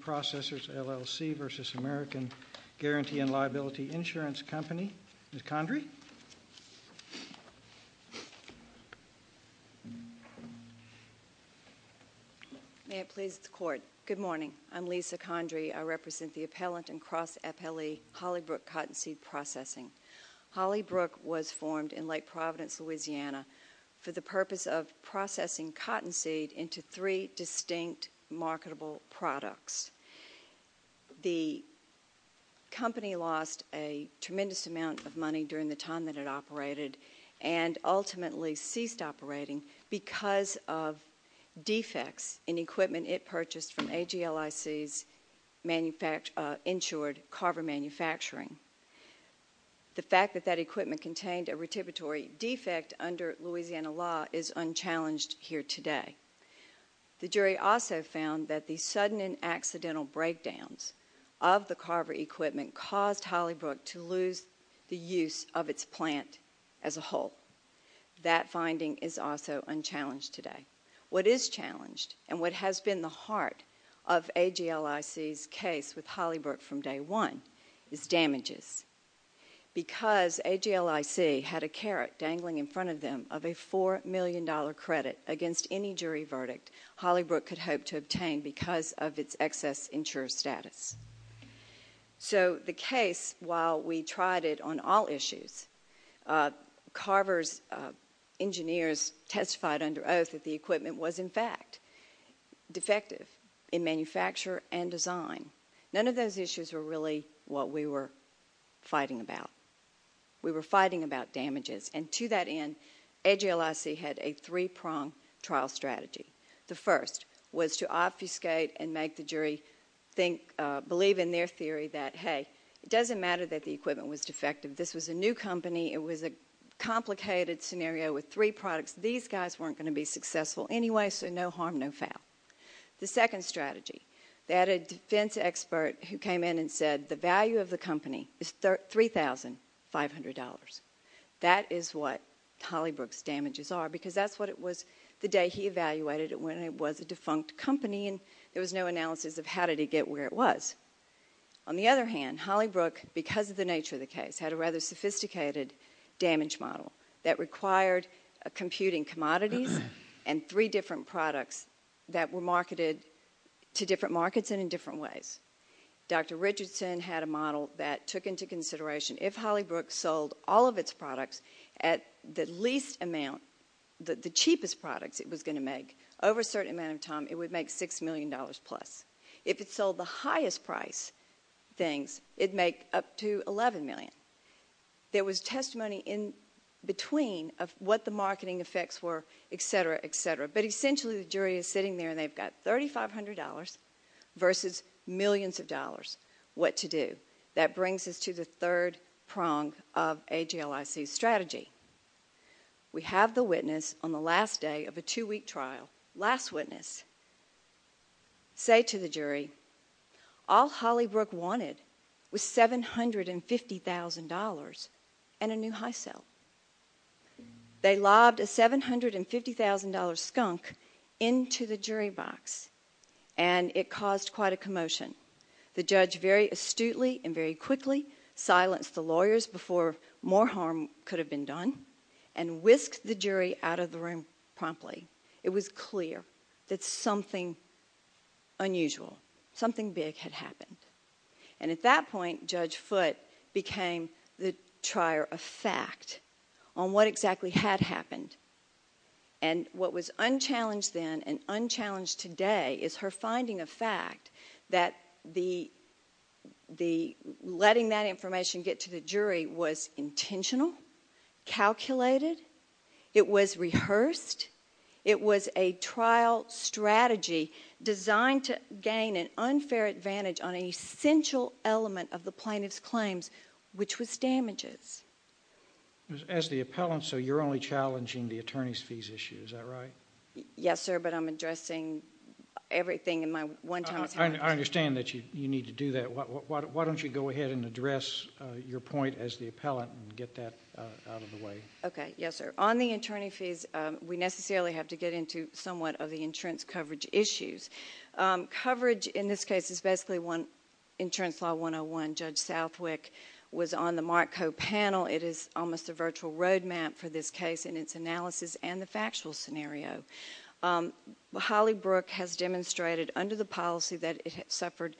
Processors LLC v. American Guarantee and Liability Insurance Company. Ms. Condry? May it please the court. Good morning. I'm Lisa Condry. I represent the appellant and cross-appellee Hollybrook Cottonseed Processing. Hollybrook was formed in Lake Providence, Louisiana for the purpose of processing cottonseed into three distinct marketable products. The company lost a tremendous amount of money during the time that it operated and ultimately ceased operating because of defects in equipment it purchased from AGLIC's insured Carver Manufacturing. The fact that that equipment contained a retributory defect under Louisiana law is unchallenged here today. The jury also found that the sudden and accidental breakdowns of the Carver equipment caused Hollybrook to lose the use of its plant as a whole. That finding is also unchallenged today. What is challenged and what has been the heart of AGLIC's case with Hollybrook from day one is damages. Because AGLIC had a carrot dangling in front of them of a four million dollar credit against any jury verdict, Hollybrook could hope to obtain because of its excess insurer status. So the case, while we tried it on all issues, Carver's engineers testified under oath that the equipment was in fact defective in manufacture and design. None of those issues were really what we were fighting about. We were fighting about AGLIC had a three-pronged trial strategy. The first was to obfuscate and make the jury believe in their theory that, hey, it doesn't matter that the equipment was defective. This was a new company. It was a complicated scenario with three products. These guys weren't going to be successful anyway, so no harm no foul. The second strategy that a defense expert who came in and said the value of the company is $3,500. That is what Hollybrook's damages are because that's what it was the day he evaluated it when it was a defunct company and there was no analysis of how did he get where it was. On the other hand, Hollybrook, because of the nature of the case, had a rather sophisticated damage model that required computing commodities and three different that were marketed to different markets and in different ways. Dr. Richardson had a model that took into consideration if Hollybrook sold all of its products at the least amount, the cheapest products it was going to make, over a certain amount of time, it would make $6 million plus. If it sold the highest price things, it'd make up to $11 million. There was testimony in between of what the marketing effects were, etc., etc., but essentially the jury is sitting there and they've got $3,500 versus millions of dollars. What to do? That brings us to the third prong of AJLIC's strategy. We have the witness on the last day of a two-week trial. Last witness say to the jury, all Hollybrook wanted was $750,000 and a new high sell. They lobbed a $750,000 skunk into the jury box and it caused quite a commotion. The judge very astutely and very quickly silenced the lawyers before more harm could have been done and whisked the jury out of the room promptly. It was clear that something unusual, something big had happened. At that point, Judge Foote became the trier of fact on what exactly had happened. What was unchallenged then and unchallenged today is her finding of fact that letting that information get to the jury was intentional, calculated, it was rehearsed, it was a trial strategy designed to gain an unfair advantage on an essential element of the plaintiff's claims, which was damages. As the appellant, so you're only challenging the attorney's fees issue, is that right? Yes sir, but I'm addressing everything in my one time. I understand that you need to do that. Why don't you go ahead and address your point as the appellant and get that out of the way. Okay, yes sir. On the attorney fees, we necessarily have to get into somewhat of the insurance coverage issues. Coverage in this case is basically one insurance law 101. Judge Southwick was on the Mark Co. panel. It is almost a virtual roadmap for this case and its analysis and the factual scenario. Holly Brook has demonstrated under the policy that it had suffered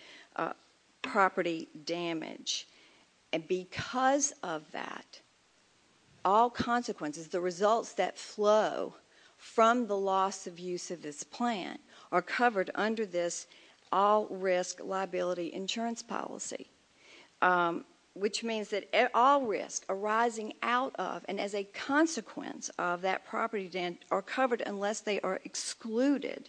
property damage and because of that, all consequences, the results that flow from the loss of use of this plan are covered under this all-risk liability insurance policy, which means that all risks arising out of and as a consequence of that property dent are covered unless they are excluded.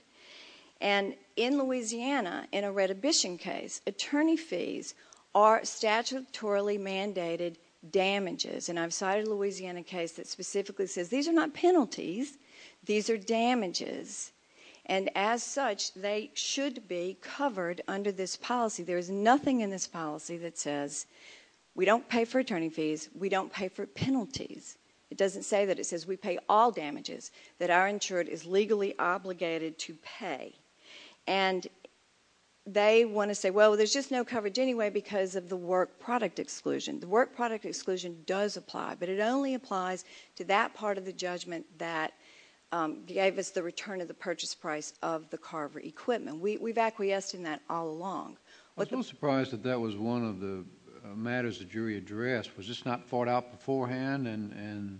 And in Louisiana, in a redhibition case, attorney fees are statutorily mandated damages and I've cited a Louisiana case that specifically says these are not penalties, these are damages. And as such, they should be covered under this policy. There is nothing in this policy that says we don't pay for attorney fees, we don't pay for penalties. It doesn't say that it says we pay all damages that our insured is legally obligated to pay. And they want to say, well, there's just no coverage anyway because of the work product exclusion. The work product exclusion does apply, but it only applies to that part of the judgment that gave us the return of the purchase price of the carver equipment. We've acquiesced in that all along. I was a little surprised that that was one of the matters the jury addressed. Was this not fought out beforehand and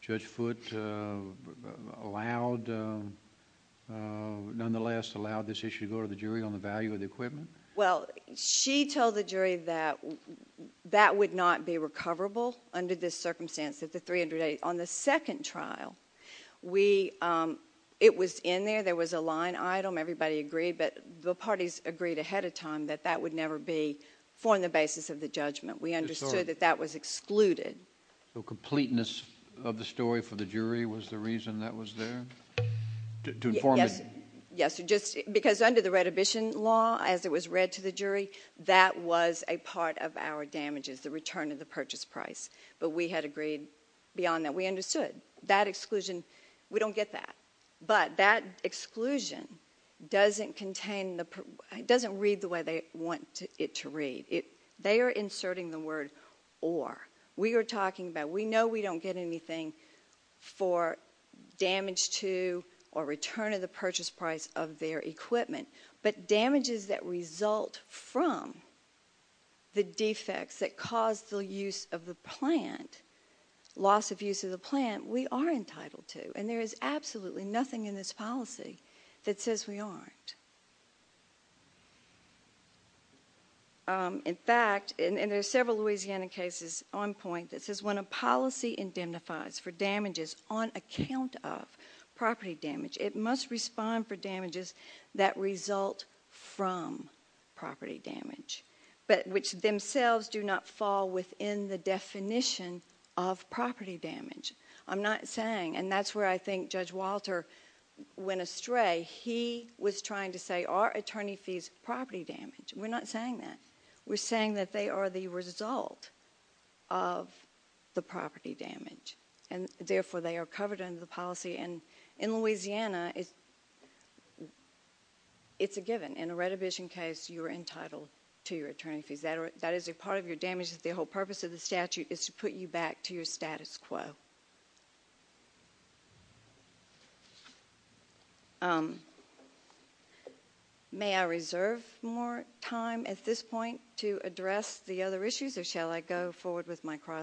Judge Foote allowed, nonetheless allowed this issue to go to the jury on the value of under this circumstance that the 380 on the second trial, we, um, it was in there, there was a line item, everybody agreed, but the parties agreed ahead of time that that would never be formed the basis of the judgment. We understood that that was excluded. So completeness of the story for the jury was the reason that was there to inform. Yes. Yes. Just because under the redhibition law, as it was read to the jury, that was a part of our damages, the return of the purchase price, but we had agreed beyond that. We understood that exclusion. We don't get that, but that exclusion doesn't contain the doesn't read the way they want it to read it. They are inserting the word or we are talking about. We know we don't get anything for damage to or return of the purchase price of their equipment, but damages that result from the defects that caused the use of the plant, loss of use of the plant, we are entitled to, and there is absolutely nothing in this policy that says we aren't. In fact, and there's several Louisiana cases on point that says when a policy indemnifies for damages on account of property damage, it must respond for damages that result from property damage, but which themselves do not fall within the definition of property damage. I'm not saying, and that's where I think Judge Walter went astray. He was trying to say our attorney fees property damage. We're not saying that. We're saying that they are the result of the property damage, and therefore they are covered under the policy, and in Louisiana, it's a given. In a retribution case, you are entitled to your attorney fees. That is a part of your damages. The whole purpose of the statute is to put you back to your status quo. May I reserve more time at this point to address the other issues, or shall I go forward with my opening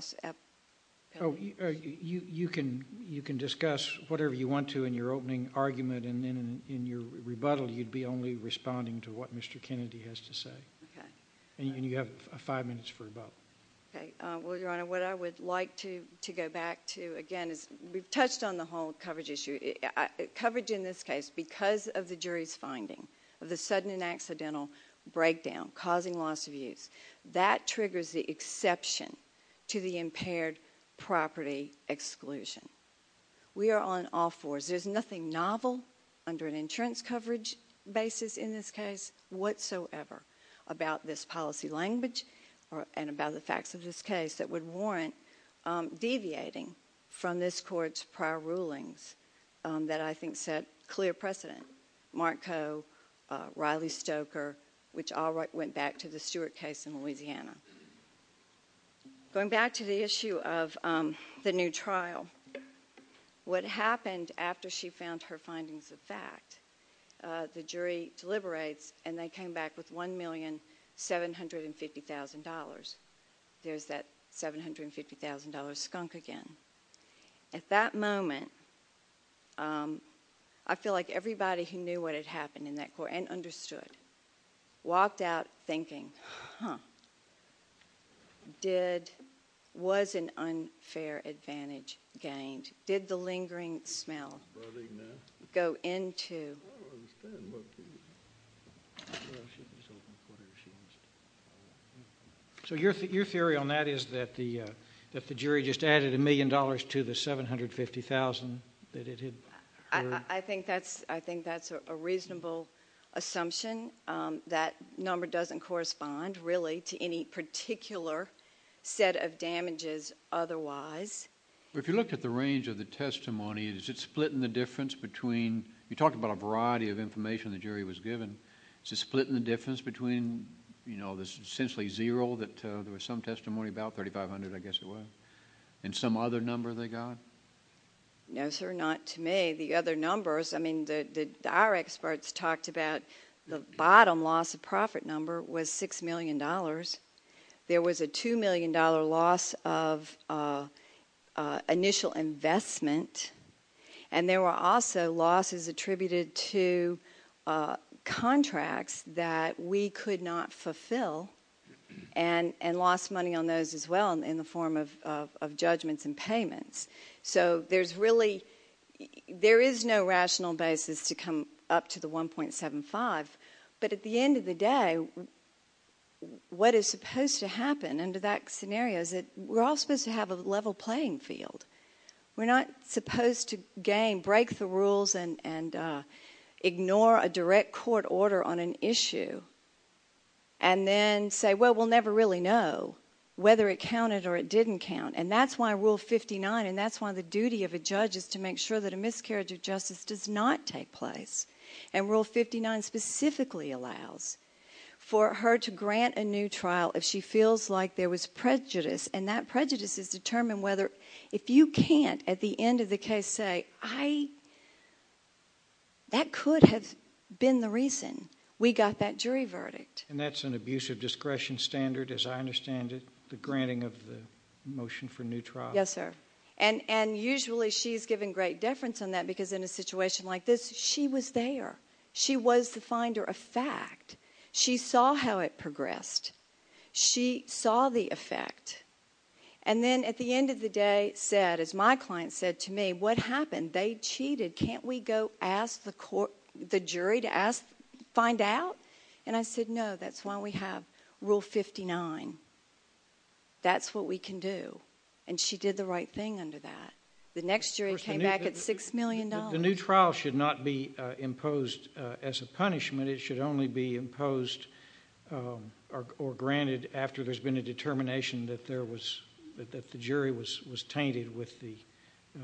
argument, and then in your rebuttal, you'd be only responding to what Mr. Kennedy has to say, and you have five minutes for rebuttal. Okay. Well, Your Honor, what I would like to go back to again is we've touched on the whole coverage issue. Coverage in this case, because of the jury's finding of the sudden and accidental breakdown causing loss of use, that triggers the exception to the impaired property exclusion. We are on all fours. There's nothing novel under an insurance coverage basis in this case whatsoever about this policy language and about the facts of this case that would warrant deviating from this court's prior rulings that I think set clear precedent. Mark Coe, Riley Stoker, which all went back to the Stewart case in Louisiana. Going back to the issue of the new trial, what happened after she found her findings of fact, the jury deliberates and they came back with $1,750,000. There's that $750,000 skunk again. At that moment, I feel like everybody who knew what had happened in that court and did, was an unfair advantage gained. Did the lingering smell go into... So your theory on that is that the jury just added a million dollars to the $750,000 that it had... I think that's a reasonable assumption. That number doesn't correspond to any particular set of damages otherwise. If you look at the range of the testimony, is it split in the difference between... You talked about a variety of information the jury was given. Is it split in the difference between essentially zero, that there was some testimony about $3,500,000 I guess it was, and some other number they got? No sir, not to me. The other $3,500,000, there was a $2,000,000 loss of initial investment and there were also losses attributed to contracts that we could not fulfill and lost money on those as well in the form of judgments and payments. So there is no rational basis to come up to the 1.75, but at the end of the day, what is supposed to happen under that scenario is that we're all supposed to have a level playing field. We're not supposed to gain, break the rules and ignore a direct court order on an issue and then say, well, we'll never really know whether it counted or it didn't count. And that's why Rule 59 and that's why the duty of a judge is to make sure that a miscarriage of justice does not take place. And Rule 59 specifically allows for her to grant a new trial if she feels like there was prejudice and that prejudice is determined whether, if you can't at the end of the case say, I, that could have been the reason we got that jury verdict. And that's an abuse of discretion standard as I understand it, the granting of the motion for new trial. Yes sir. And, and usually she's given great deference on that because in a situation like this, she was there. She was the finder of fact. She saw how it progressed. She saw the effect. And then at the end of the day said, as my client said to me, what happened? They cheated. Can't we go ask the court, the jury to ask, find out? And I said, no, that's why we have Rule 59. That's what we can do. And she did the right thing under that. The next jury came back at six million dollars. The new trial should not be imposed as a punishment. It should only be imposed or granted after there's been a determination that there was, that the jury was, was tainted with the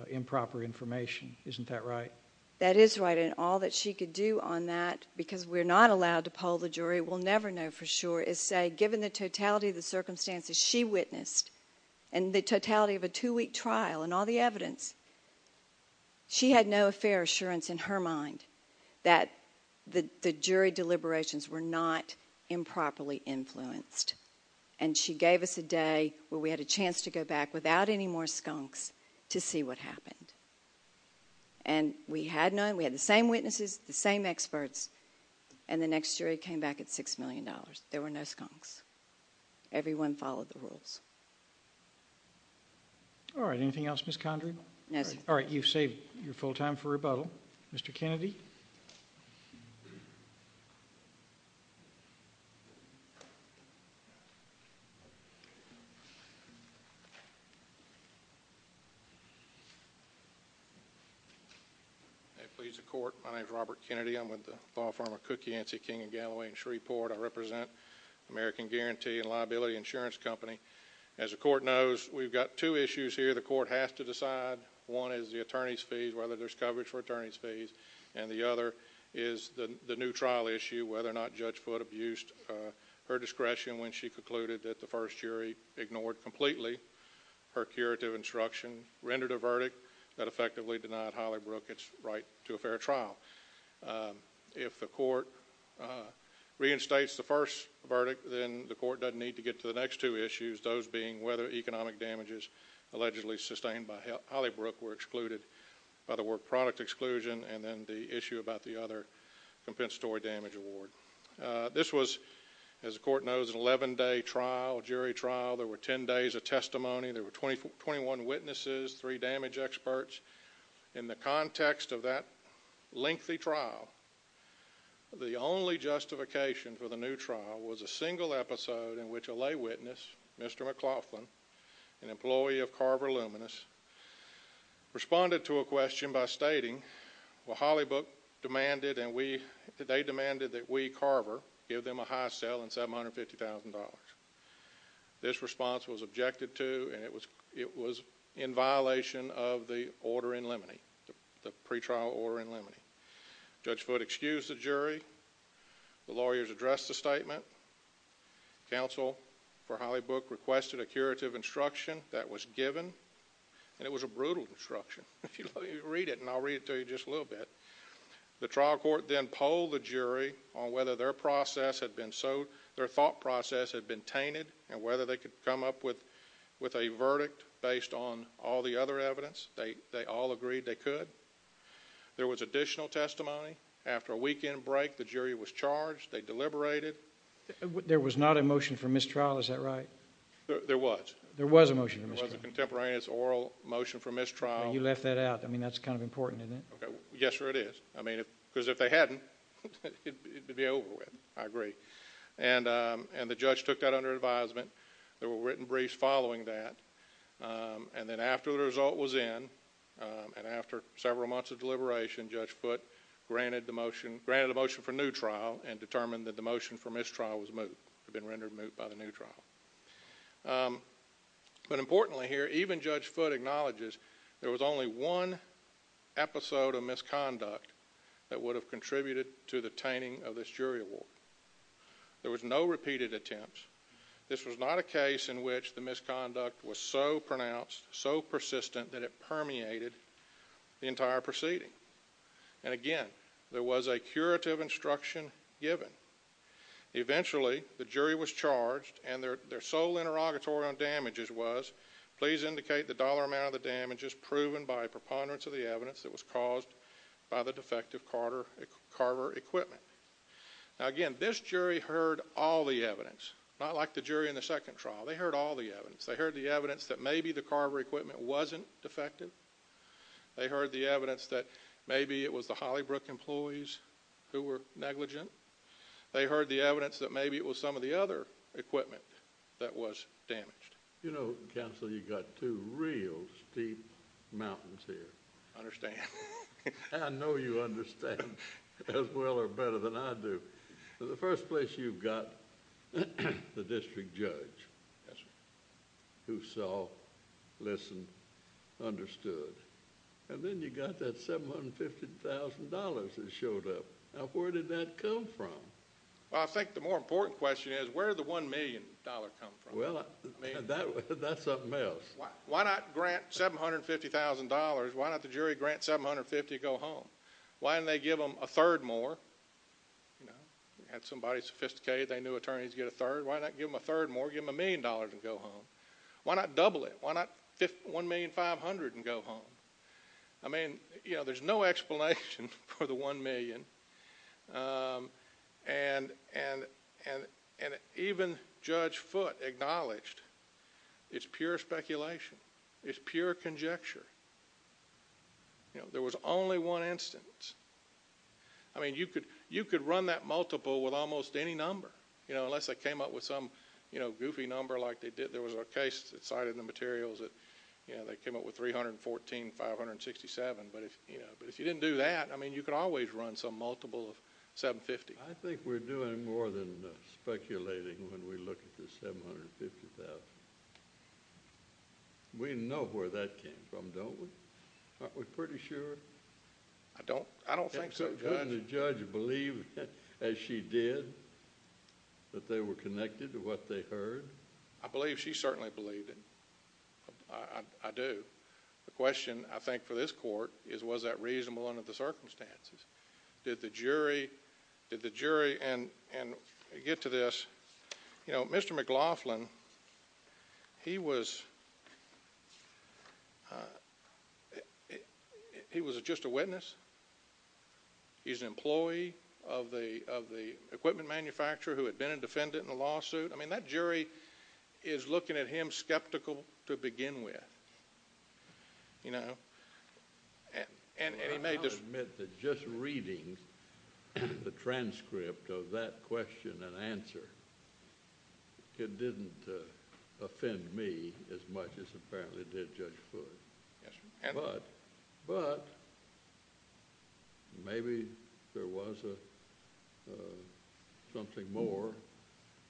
improper information. Isn't that right? That is right. And all that she could do on that, because we're not allowed to poll the jury, we'll never know for sure, is say given the totality of the circumstances she witnessed and the totality of a two-week trial and all the evidence, she had no fair assurance in her mind that the jury deliberations were not improperly influenced. And she gave us a day where we had a chance to go back without any more skunks to see what happened. And we had known, we had the same witnesses, the same experts, and the next jury came back at six million dollars. There were no skunks. Everyone followed the rules. All right. Anything else, Ms. Condry? No. All right. You've saved your full time for rebuttal. Mr. Kennedy? I plead the court. My name is Robert Kennedy. I'm with the law firm of Cookie, Ancy King & Galloway in Shreveport. I represent American Guarantee and Liability Insurance Company. As the court knows, we've got two issues here the court has to decide. One is the attorney's fees, whether there's coverage for attorney's fees, and the other is the new trial issue, whether or not Judge Foote abused her discretion when she concluded that the first jury ignored completely her curative instruction, rendered a verdict that effectively denied Hollybrook its right to a fair trial. If the court reinstates the first verdict, then the court doesn't need to get to the next two issues, those being whether economic damages allegedly sustained by Hollybrook were excluded by the work product exclusion, and then the issue about the other compensatory damage award. This was, as the court knows, an 11-day trial, jury trial. There were 10 days of testimony. There were 21 witnesses, three damage experts. In the context of that lengthy trial, the only justification for the new trial was a single episode in which a lay witness, Mr. McLaughlin, an employee of Carver Luminous, responded to a question by stating, well, Hollybrook demanded and they demanded that we, Carver, give them a high sale in $750,000. This response was objected to, and it was in violation of the order in limine, the pretrial order in limine. Judge Foote excused the jury. The lawyers addressed the statement. The counsel for Hollybrook requested a curative instruction that was given, and it was a brutal instruction. If you read it, and I'll read it to you just a little bit, the trial court then polled the jury on whether their thought process had been tainted, and whether they could come up with a verdict based on all the other evidence. They all agreed they could. There was additional testimony. After a weekend break, the jury was charged. They deliberated. There was not a motion for mistrial. Is that right? There was. There was a motion. It was a contemporaneous oral motion for mistrial. You left that out. I mean, that's kind of important, isn't it? Yes, sir, it is. I mean, because if they hadn't, it would be over with. I agree. And the judge took that under advisement. There were written briefs following that, and then after the result was in, and after several months of deliberation, Judge Foote granted the motion for new trial and determined that the motion for mistrial was moved. It had been rendered moot by the new trial. But importantly here, even Judge Foote acknowledges there was only one episode of misconduct that would have contributed to the tainting of this jury award. There was no repeated attempts. This was not a case in which the misconduct was so significant. Again, there was a curative instruction given. Eventually, the jury was charged, and their sole interrogatory on damages was, please indicate the dollar amount of the damages proven by preponderance of the evidence that was caused by the defective Carver equipment. Now again, this jury heard all the evidence, not like the jury in the second trial. They heard all the evidence. They heard the evidence that maybe the Carver equipment wasn't defective. They heard the employees who were negligent. They heard the evidence that maybe it was some of the other equipment that was damaged. You know, counsel, you've got two real steep mountains here. I understand. I know you understand as well or better than I do. The first place you've got the district judge who saw, listened, understood, and then you got that $750,000 that showed up. Now, where did that come from? Well, I think the more important question is, where did the $1 million come from? Well, that's something else. Why not grant $750,000? Why not the jury grant $750,000 to go home? Why didn't they give them a third more? You know, you had somebody sophisticated. They knew attorneys get a third. Why not give them a third more? Give them a million dollars and go home. Why not double it? Why not $1,500,000 and go home? I mean, you know, there's no explanation for the $1 million. And even Judge Foote acknowledged it's pure speculation. It's pure conjecture. You know, there was only one instance. I mean, you could run that multiple with almost any number, you know, unless they came up with some, you know, goofy number like they did. There was a case that cited the materials that, you know, they came up with $314,000, $567,000. But if, you know, but if you didn't do that, I mean, you could always run some multiple of $750,000. I think we're doing more than speculating when we look at the $750,000. We know where that came from, don't we? Aren't we pretty sure? I don't. I don't think so. Couldn't the judge believe as she did that they were connected to what they heard? I believe she certainly believed it. I do. The question, I think, for this court is was that jury, and I get to this, you know, Mr. McLaughlin, he was just a witness. He's an employee of the equipment manufacturer who had been a defendant in the lawsuit. I mean, that jury is looking at him skeptical to begin with, you know. And he may just admit that just reading the transcript of that question and answer, it didn't offend me as much as apparently did Judge Foote. But maybe there was a something more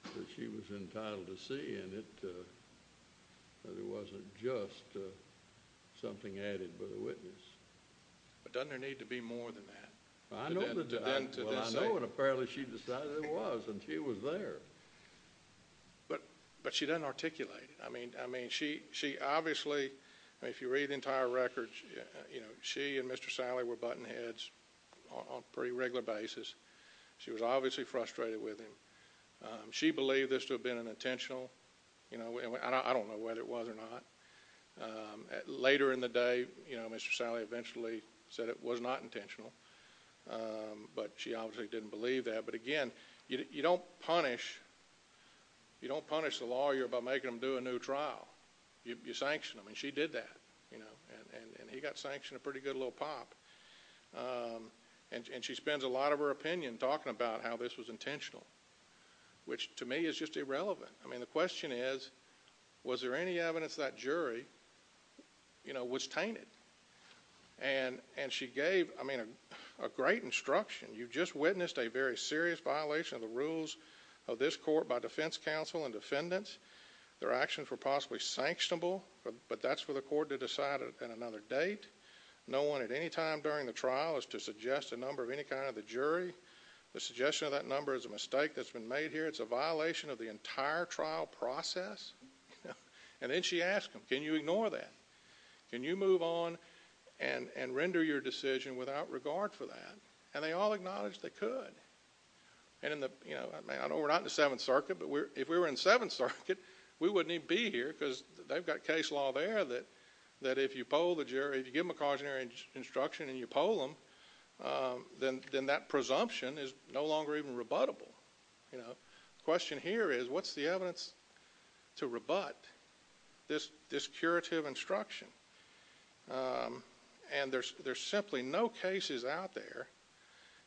that she was entitled to see, and it wasn't just something added by the witness. But doesn't there need to be more than that? I know, and apparently she decided there was, and she was there. But she doesn't articulate it. I mean, she obviously, if you read the entire record, you know, she and Mr. Salley were buttonheads on a pretty regular basis. She was obviously frustrated with him. She believed this to have been an intentional, you know, and I don't know whether it was or not. Later in the day, you know, Mr. Salley eventually said it was not intentional, but she obviously didn't believe that. But again, you don't punish the lawyer by making him do a new trial. You sanction him, and she did that, you know, and he got sanctioned a pretty good little pop. And she spends a lot of her opinion talking about how this was intentional, which to me is just irrelevant. I mean, the question is, was there any evidence that jury, you know, was tainted? And she gave, I mean, a great instruction. You just witnessed a very clear example of that. Her actions were possibly sanctionable, but that's for the court to decide at another date. No one at any time during the trial is to suggest a number of any kind of the jury. The suggestion of that number is a mistake that's been made here. It's a violation of the entire trial process. And then she asked him, can you ignore that? Can you move on and render your decision without regard for that? And they all acknowledged they could. And in the, you know, because they've got case law there that if you poll the jury, if you give them a cautionary instruction and you poll them, then that presumption is no longer even rebuttable, you know. The question here is, what's the evidence to rebut this curative instruction? And there's simply no cases out there,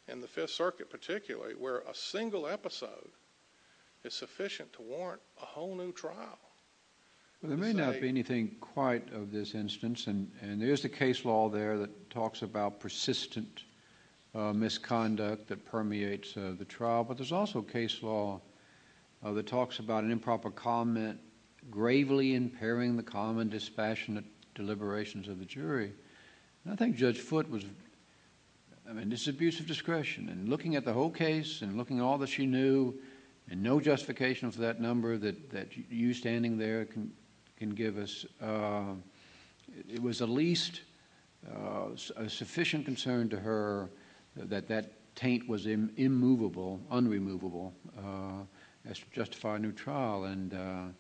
in the Fifth Circuit particularly, where a single episode is sufficient to warrant a whole new trial. Well, there may not be anything quite of this instance. And there's the case law there that talks about persistent misconduct that permeates the trial. But there's also case law that talks about an improper comment gravely impairing the common dispassionate deliberations of the jury. And I think Judge Foote was, I mean, it's abuse of discretion. And looking at the whole case, and looking at all that she knew, and no justification for that number that you standing there can give us, it was at least a sufficient concern to her that that taint was immovable, unremovable, as to justify a new trial. And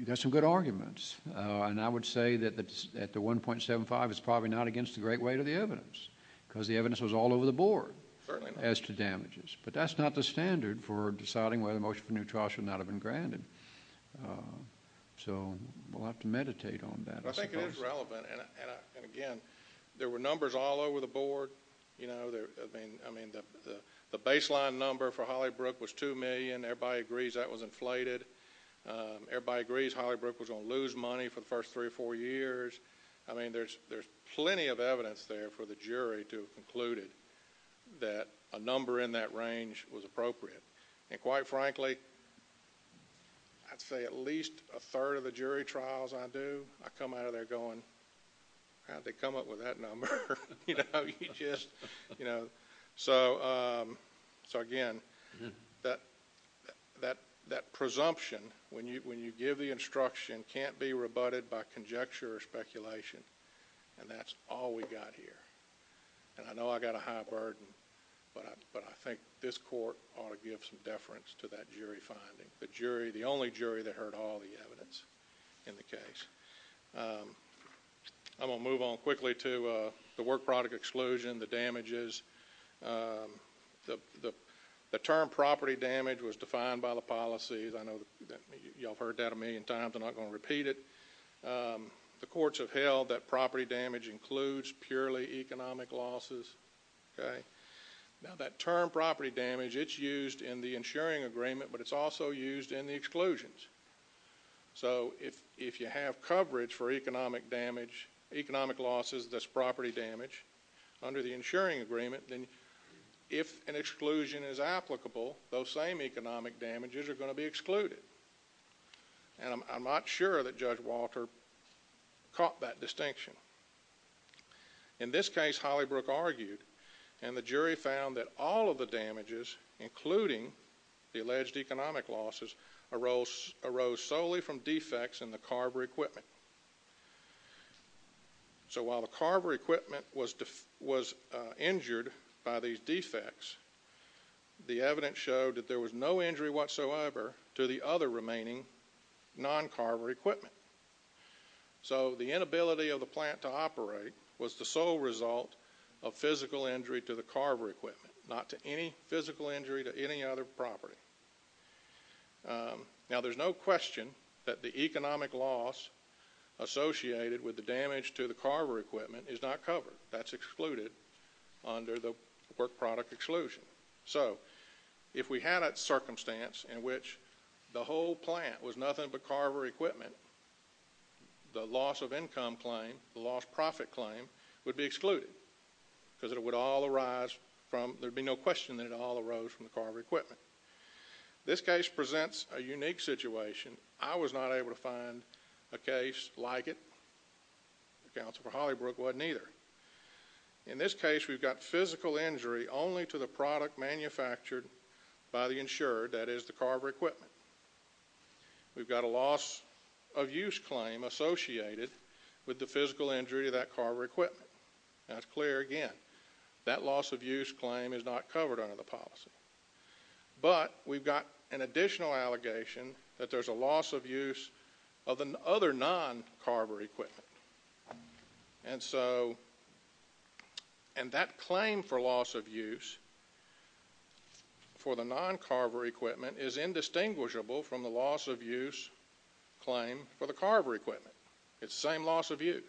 there's some good arguments. And I would say that at the 1.75, it's probably not against the great weight of the evidence, because the evidence was all over the board as to damages. But that's not the standard for deciding whether a motion for a new trial should not have been granted. So we'll have to meditate on that. I think it is relevant. And again, there were numbers all over the board. I mean, the baseline number for Hollybrook was two million. Everybody agrees that was inflated. Everybody agrees Hollybrook was going to lose money for the first three or four years. I mean, there's plenty of evidence there for the jury to have concluded that a number in that range was appropriate. And quite frankly, I'd say at least a third of the jury trials I do, I come out of there going, how'd they come up with that number? So again, that presumption, when you give the instruction, can't be rebutted by conjecture or speculation. And that's all we got here. And I know I got a high burden, but I think this court ought to give some deference to that jury finding. The only jury that heard all the evidence in the case. I'm going to move on quickly to the work product exclusion, the damages. The term property damage was defined by the policies. I know y'all have heard that a million times. I'm not going to repeat it. The courts have held that property damage includes purely economic losses. Now that term property damage, it's used in the insuring agreement, but it's also used in the exclusions. So if you have coverage for economic damage, economic losses, that's property damage under the insuring agreement, then if an exclusion is applicable, those same economic damages are going to be excluded. And I'm not sure that Judge Walter caught that distinction. In this case, Hollybrook argued, and the jury found that all of the damages, including the alleged economic losses, arose solely from defects in the carver equipment. So while the carver equipment was injured by these defects, the evidence showed that there was no injury whatsoever to the other remaining non-carver equipment. So the inability of the plant to operate was the sole result of physical injury to the carver equipment, not to any physical injury to any other property. Now there's no question that the economic loss associated with the damage to the carver equipment is not covered. That's excluded under the work product exclusion. So if we had a circumstance in which the whole plant was nothing but carver equipment, the loss of income claim, the lost profit claim, would be excluded because it would all arise from, there'd be no question that it all arose from the carver equipment. This case presents a unique situation. I was not able to find a case like it. The Council for Hollybrook wasn't either. In this case, we've got physical injury only to the product manufactured by the insurer, that is the carver equipment. We've got a loss of use claim associated with the physical injury of that carver equipment. Now it's clear again, that loss of use claim is not covered under the policy. But we've got an additional allegation that there's a loss of use of the other non-carver equipment. And that claim for loss of use for the non-carver equipment is indistinguishable from the loss of use claim for the carver equipment. It's the same loss of use.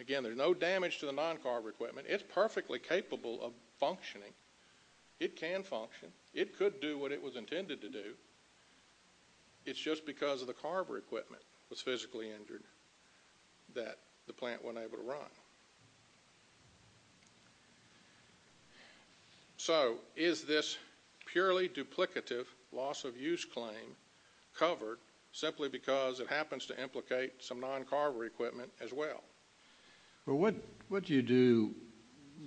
Again, there's no damage to the non-carver equipment. It's perfectly capable of functioning. It can function. It could do what the carver equipment was physically injured that the plant wasn't able to run. So is this purely duplicative loss of use claim covered simply because it happens to implicate some non-carver equipment as well? Well, what do you do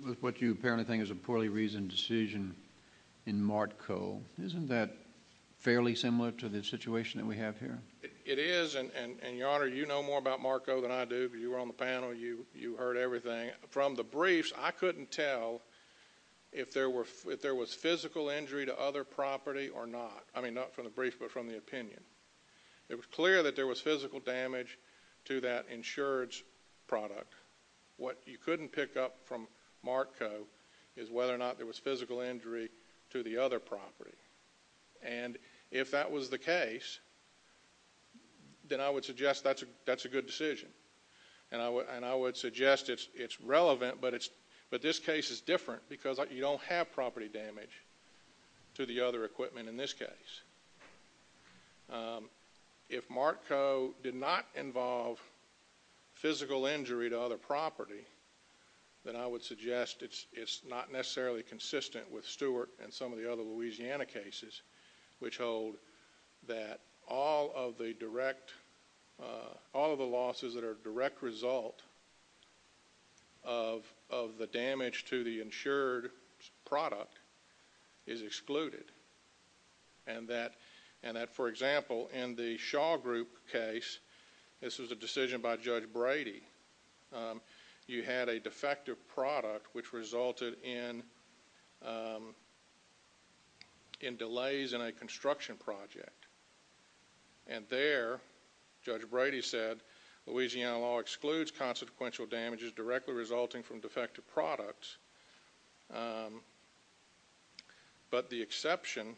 with what you apparently think is a poorly reasoned decision in Martco? Isn't that fairly similar to the situation that we have here? It is. And Your Honor, you know more about Martco than I do. You were on the panel. You heard everything. From the briefs, I couldn't tell if there was physical injury to other property or not. I mean, not from the brief, but from the opinion. It was clear that there was physical damage to that insurance product. What you couldn't pick up from Martco is whether or not there was physical injury to the other property. And if that was the case, then I would suggest that's a good decision. And I would suggest it's relevant, but this case is different because you don't have property damage to the other equipment in this case. If Martco did not involve physical injury to other property, then I would suggest it's not necessarily consistent with Stewart and some of the other Louisiana cases, which hold that all of the losses that are a direct result of the damage to the insured product is excluded. And that, for example, in the Shaw Group case, this was a decision by Judge Brady. You had a defective product which resulted in delays in a construction project. And there, Judge Brady said Louisiana law excludes consequential damages directly resulting from defective products. But the exception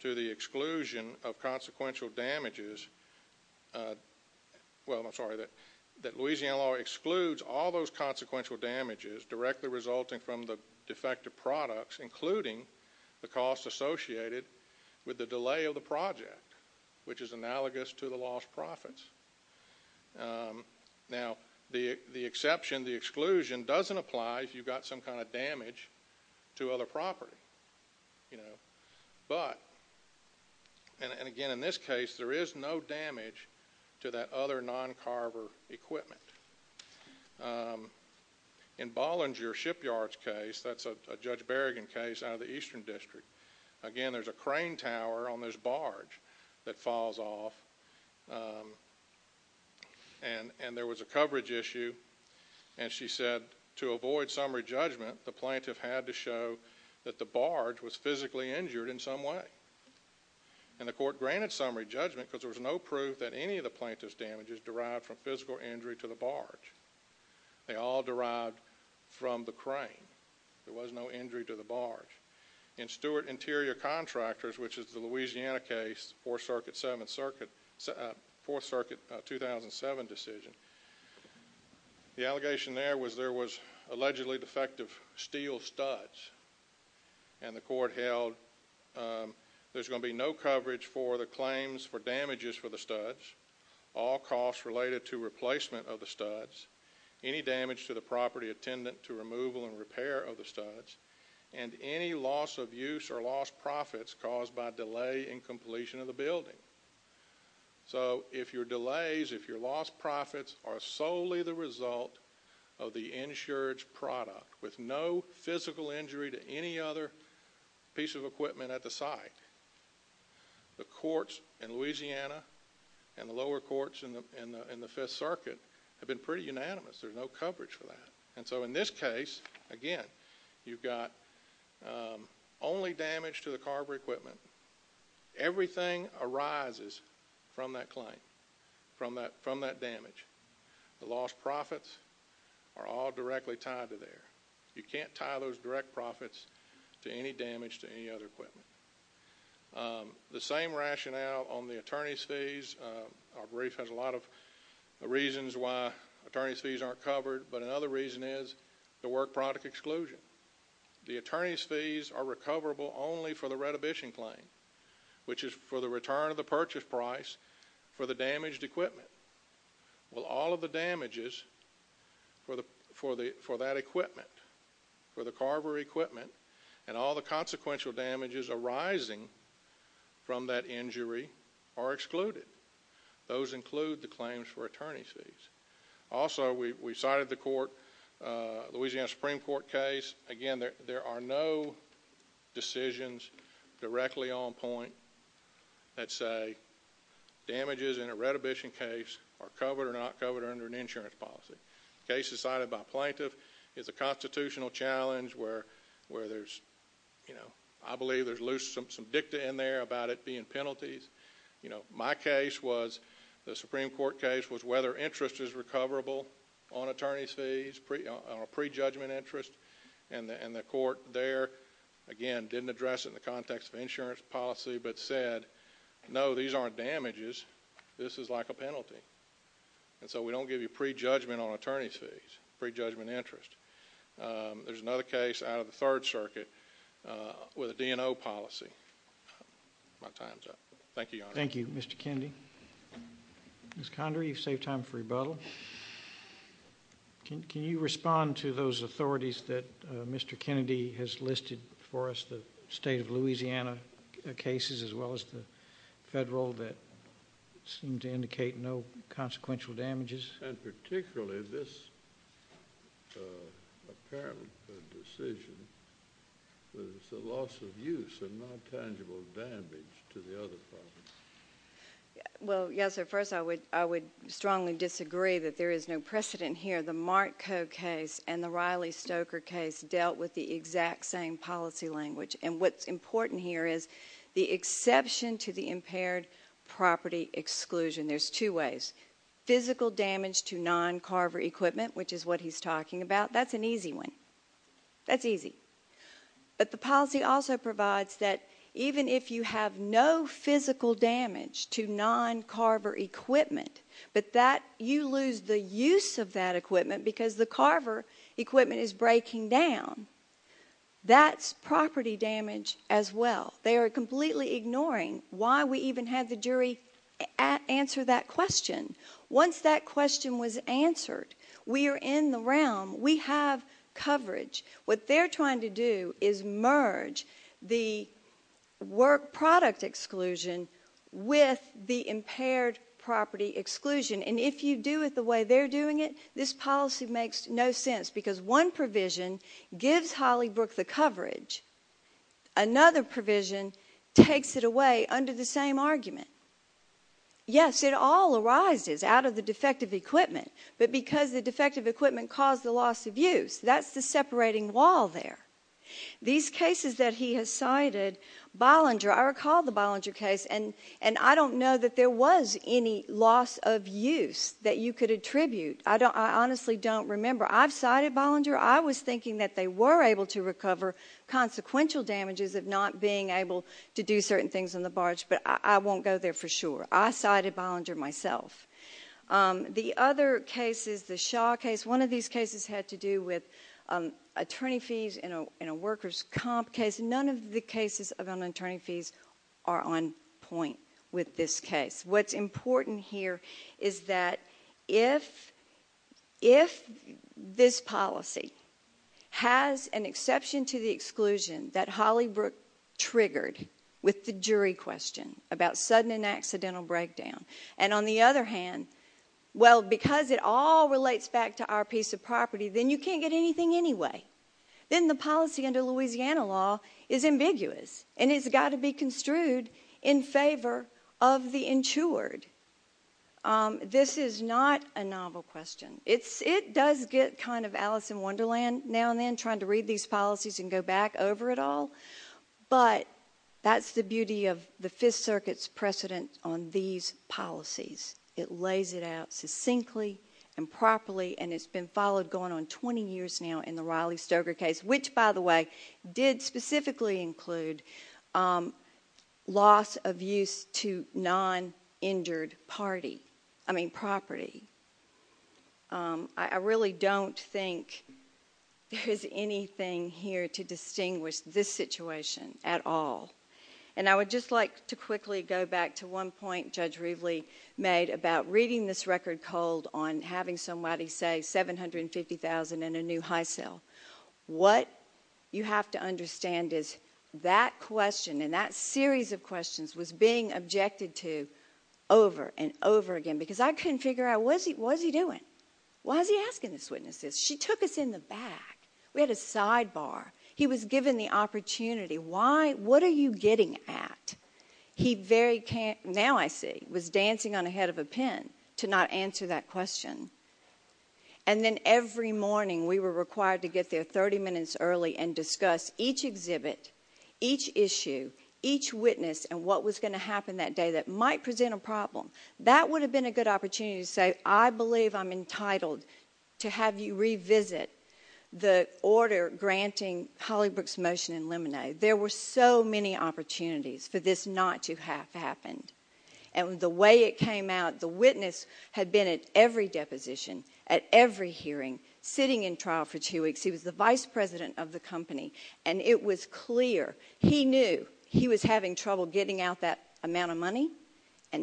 to the exclusion of consequential damages, well, I'm sorry, that Louisiana law excludes all those consequential damages directly resulting from the defective products, including the cost associated with the delay of the project, which is analogous to the lost profits. Now, the exception, the exclusion doesn't apply if you've got some kind of damage to other property. But, and again, in this case, there is no damage to that other non-carver equipment. In Bollinger Shipyard's case, that's a Judge Berrigan case out of the Eastern District. Again, there's a crane tower on this barge that falls off. And there was a coverage issue. And she said to avoid summary judgment, the plaintiff had to show that the barge was physically injured in some way. And the court granted summary judgment because there was no proof that any of the plaintiff's damages derived from physical injury to the barge. They all derived from the crane. There was no injury to the barge. In Stewart Interior Contractors, which is the Louisiana case, Fourth Circuit 2007 decision, the allegation there was there was allegedly defective steel studs. And the court held there's going to be no coverage for the claims for damages for the studs, all costs related to replacement of the studs, any damage to the property attendant to removal and repair of the studs, and any loss of use or lost profits caused by delay in completion of the building. So if your delays, if your lost profits are solely the result of the insured product with no physical injury to any other piece of equipment at the site, the courts in Louisiana and the lower courts in the Fifth Circuit have been pretty unanimous. There's no coverage for that. And so in this case, again, you've got only damage to the carburetor equipment. Everything arises from that claim, from that damage. The lost profits are all directly tied to there. You can't tie those direct profits to any damage to any other equipment. The same rationale on the attorney's fees, our brief has a lot of reasons why attorney's fees aren't covered, but another reason is the work product exclusion. The attorney's fees are recoverable only for the retribution claim, which is for the return of the purchase price for the damaged equipment. Well, all of the damages for that equipment, for the consequential damages arising from that injury are excluded. Those include the claims for attorney's fees. Also, we cited the court, Louisiana Supreme Court case. Again, there are no decisions directly on point that say damages in a retribution case are covered or not covered under an insurance policy. Cases cited by plaintiff is a constitutional challenge where there's, you know, I believe there's loose, some dicta in there about it being penalties. You know, my case was, the Supreme Court case, was whether interest is recoverable on attorney's fees, pre-judgment interest. And the court there, again, didn't address it in the context of insurance policy, but said, no, these aren't damages, this is like a penalty. And so we don't give you a third circuit with a DNO policy. My time's up. Thank you, Your Honor. Thank you, Mr. Kennedy. Ms. Condry, you've saved time for rebuttal. Can you respond to those authorities that Mr. Kennedy has listed for us, the state of Louisiana cases, as well as the federal that seem to indicate no consequential damages? And particularly this, uh, apparent decision was the loss of use and not tangible damage to the other parties. Well, yes, sir. First, I would, I would strongly disagree that there is no precedent here. The Mark Coe case and the Riley Stoker case dealt with the exact same policy language. And what's important here is the exception to the impaired property exclusion. There's two ways, physical damage to non-carver equipment, which is what he's talking about. That's an easy one. That's easy. But the policy also provides that even if you have no physical damage to non-carver equipment, but that you lose the use of that equipment because the carver equipment is breaking down, that's property damage as well. They are completely ignoring why we even had the jury answer that question. Once that question was answered, we are in the realm, we have coverage. What they're trying to do is merge the work product exclusion with the impaired property exclusion. And if you do it the way they're doing it, this policy makes no sense because one provision gives Hollybrook the coverage. Another provision takes it away under the same argument. Yes, it all arises out of the defective equipment, but because the defective equipment caused the loss of use, that's the separating wall there. These cases that he has cited, Bollinger, I recall the Bollinger case, and I don't know that there was any loss of use that you could attribute. I honestly don't remember. I've cited Bollinger. I was thinking that they were able to recover consequential damages of not being able to do certain things but I won't go there for sure. I cited Bollinger myself. The other cases, the Shaw case, one of these cases had to do with attorney fees in a worker's comp case. None of the cases on attorney fees are on point with this case. What's important here is that if this policy has an exception to the exclusion that Hollybrook triggered with the jury question about sudden and accidental breakdown, and on the other hand, well, because it all relates back to our piece of property, then you can't get anything anyway. Then the policy under Louisiana law is ambiguous and it's got to be construed in favor of the insured. This is not a novel question. It does get kind of Alice in Wonderland now and then, trying to read these policies and go back over it all, but that's the beauty of the Fifth Circuit's precedent on these policies. It lays it out succinctly and properly and it's been followed going on 20 years now in the Riley Stoker case, which, by the way, did specifically include loss of use to non-injured property. I really don't think there's anything here to distinguish this situation at all. I would just like to quickly go back to one point Judge Rivley made about reading this record cold on having somebody say $750,000 and a new high cell. What you have to understand is that question and that series of questions was being objected to over and over again, because I couldn't figure out, what is he doing? Why is he asking these witnesses? She took us in the back. We had a sidebar. He was given the opportunity. What are you getting at? Now I see, he was dancing on the head of a pin to not every morning we were required to get there 30 minutes early and discuss each exhibit, each issue, each witness, and what was going to happen that day that might present a problem. That would have been a good opportunity to say, I believe I'm entitled to have you revisit the order granting Hollybrook's motion in limine. There were so many opportunities for this not to have happened. The way it came out, the witness had been at every deposition, at every hearing, sitting in trial for two weeks. He was the vice president of the company. It was clear he knew he was having trouble getting out that amount of money.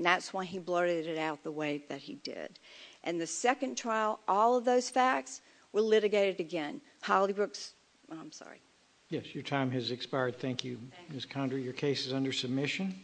That's why he blurted it out the way that he did. The second trial, all of those facts were litigated again. Hollybrook's, I'm sorry. Yes, your time has expired. Thank you, Ms. Condry. Your case is under submission.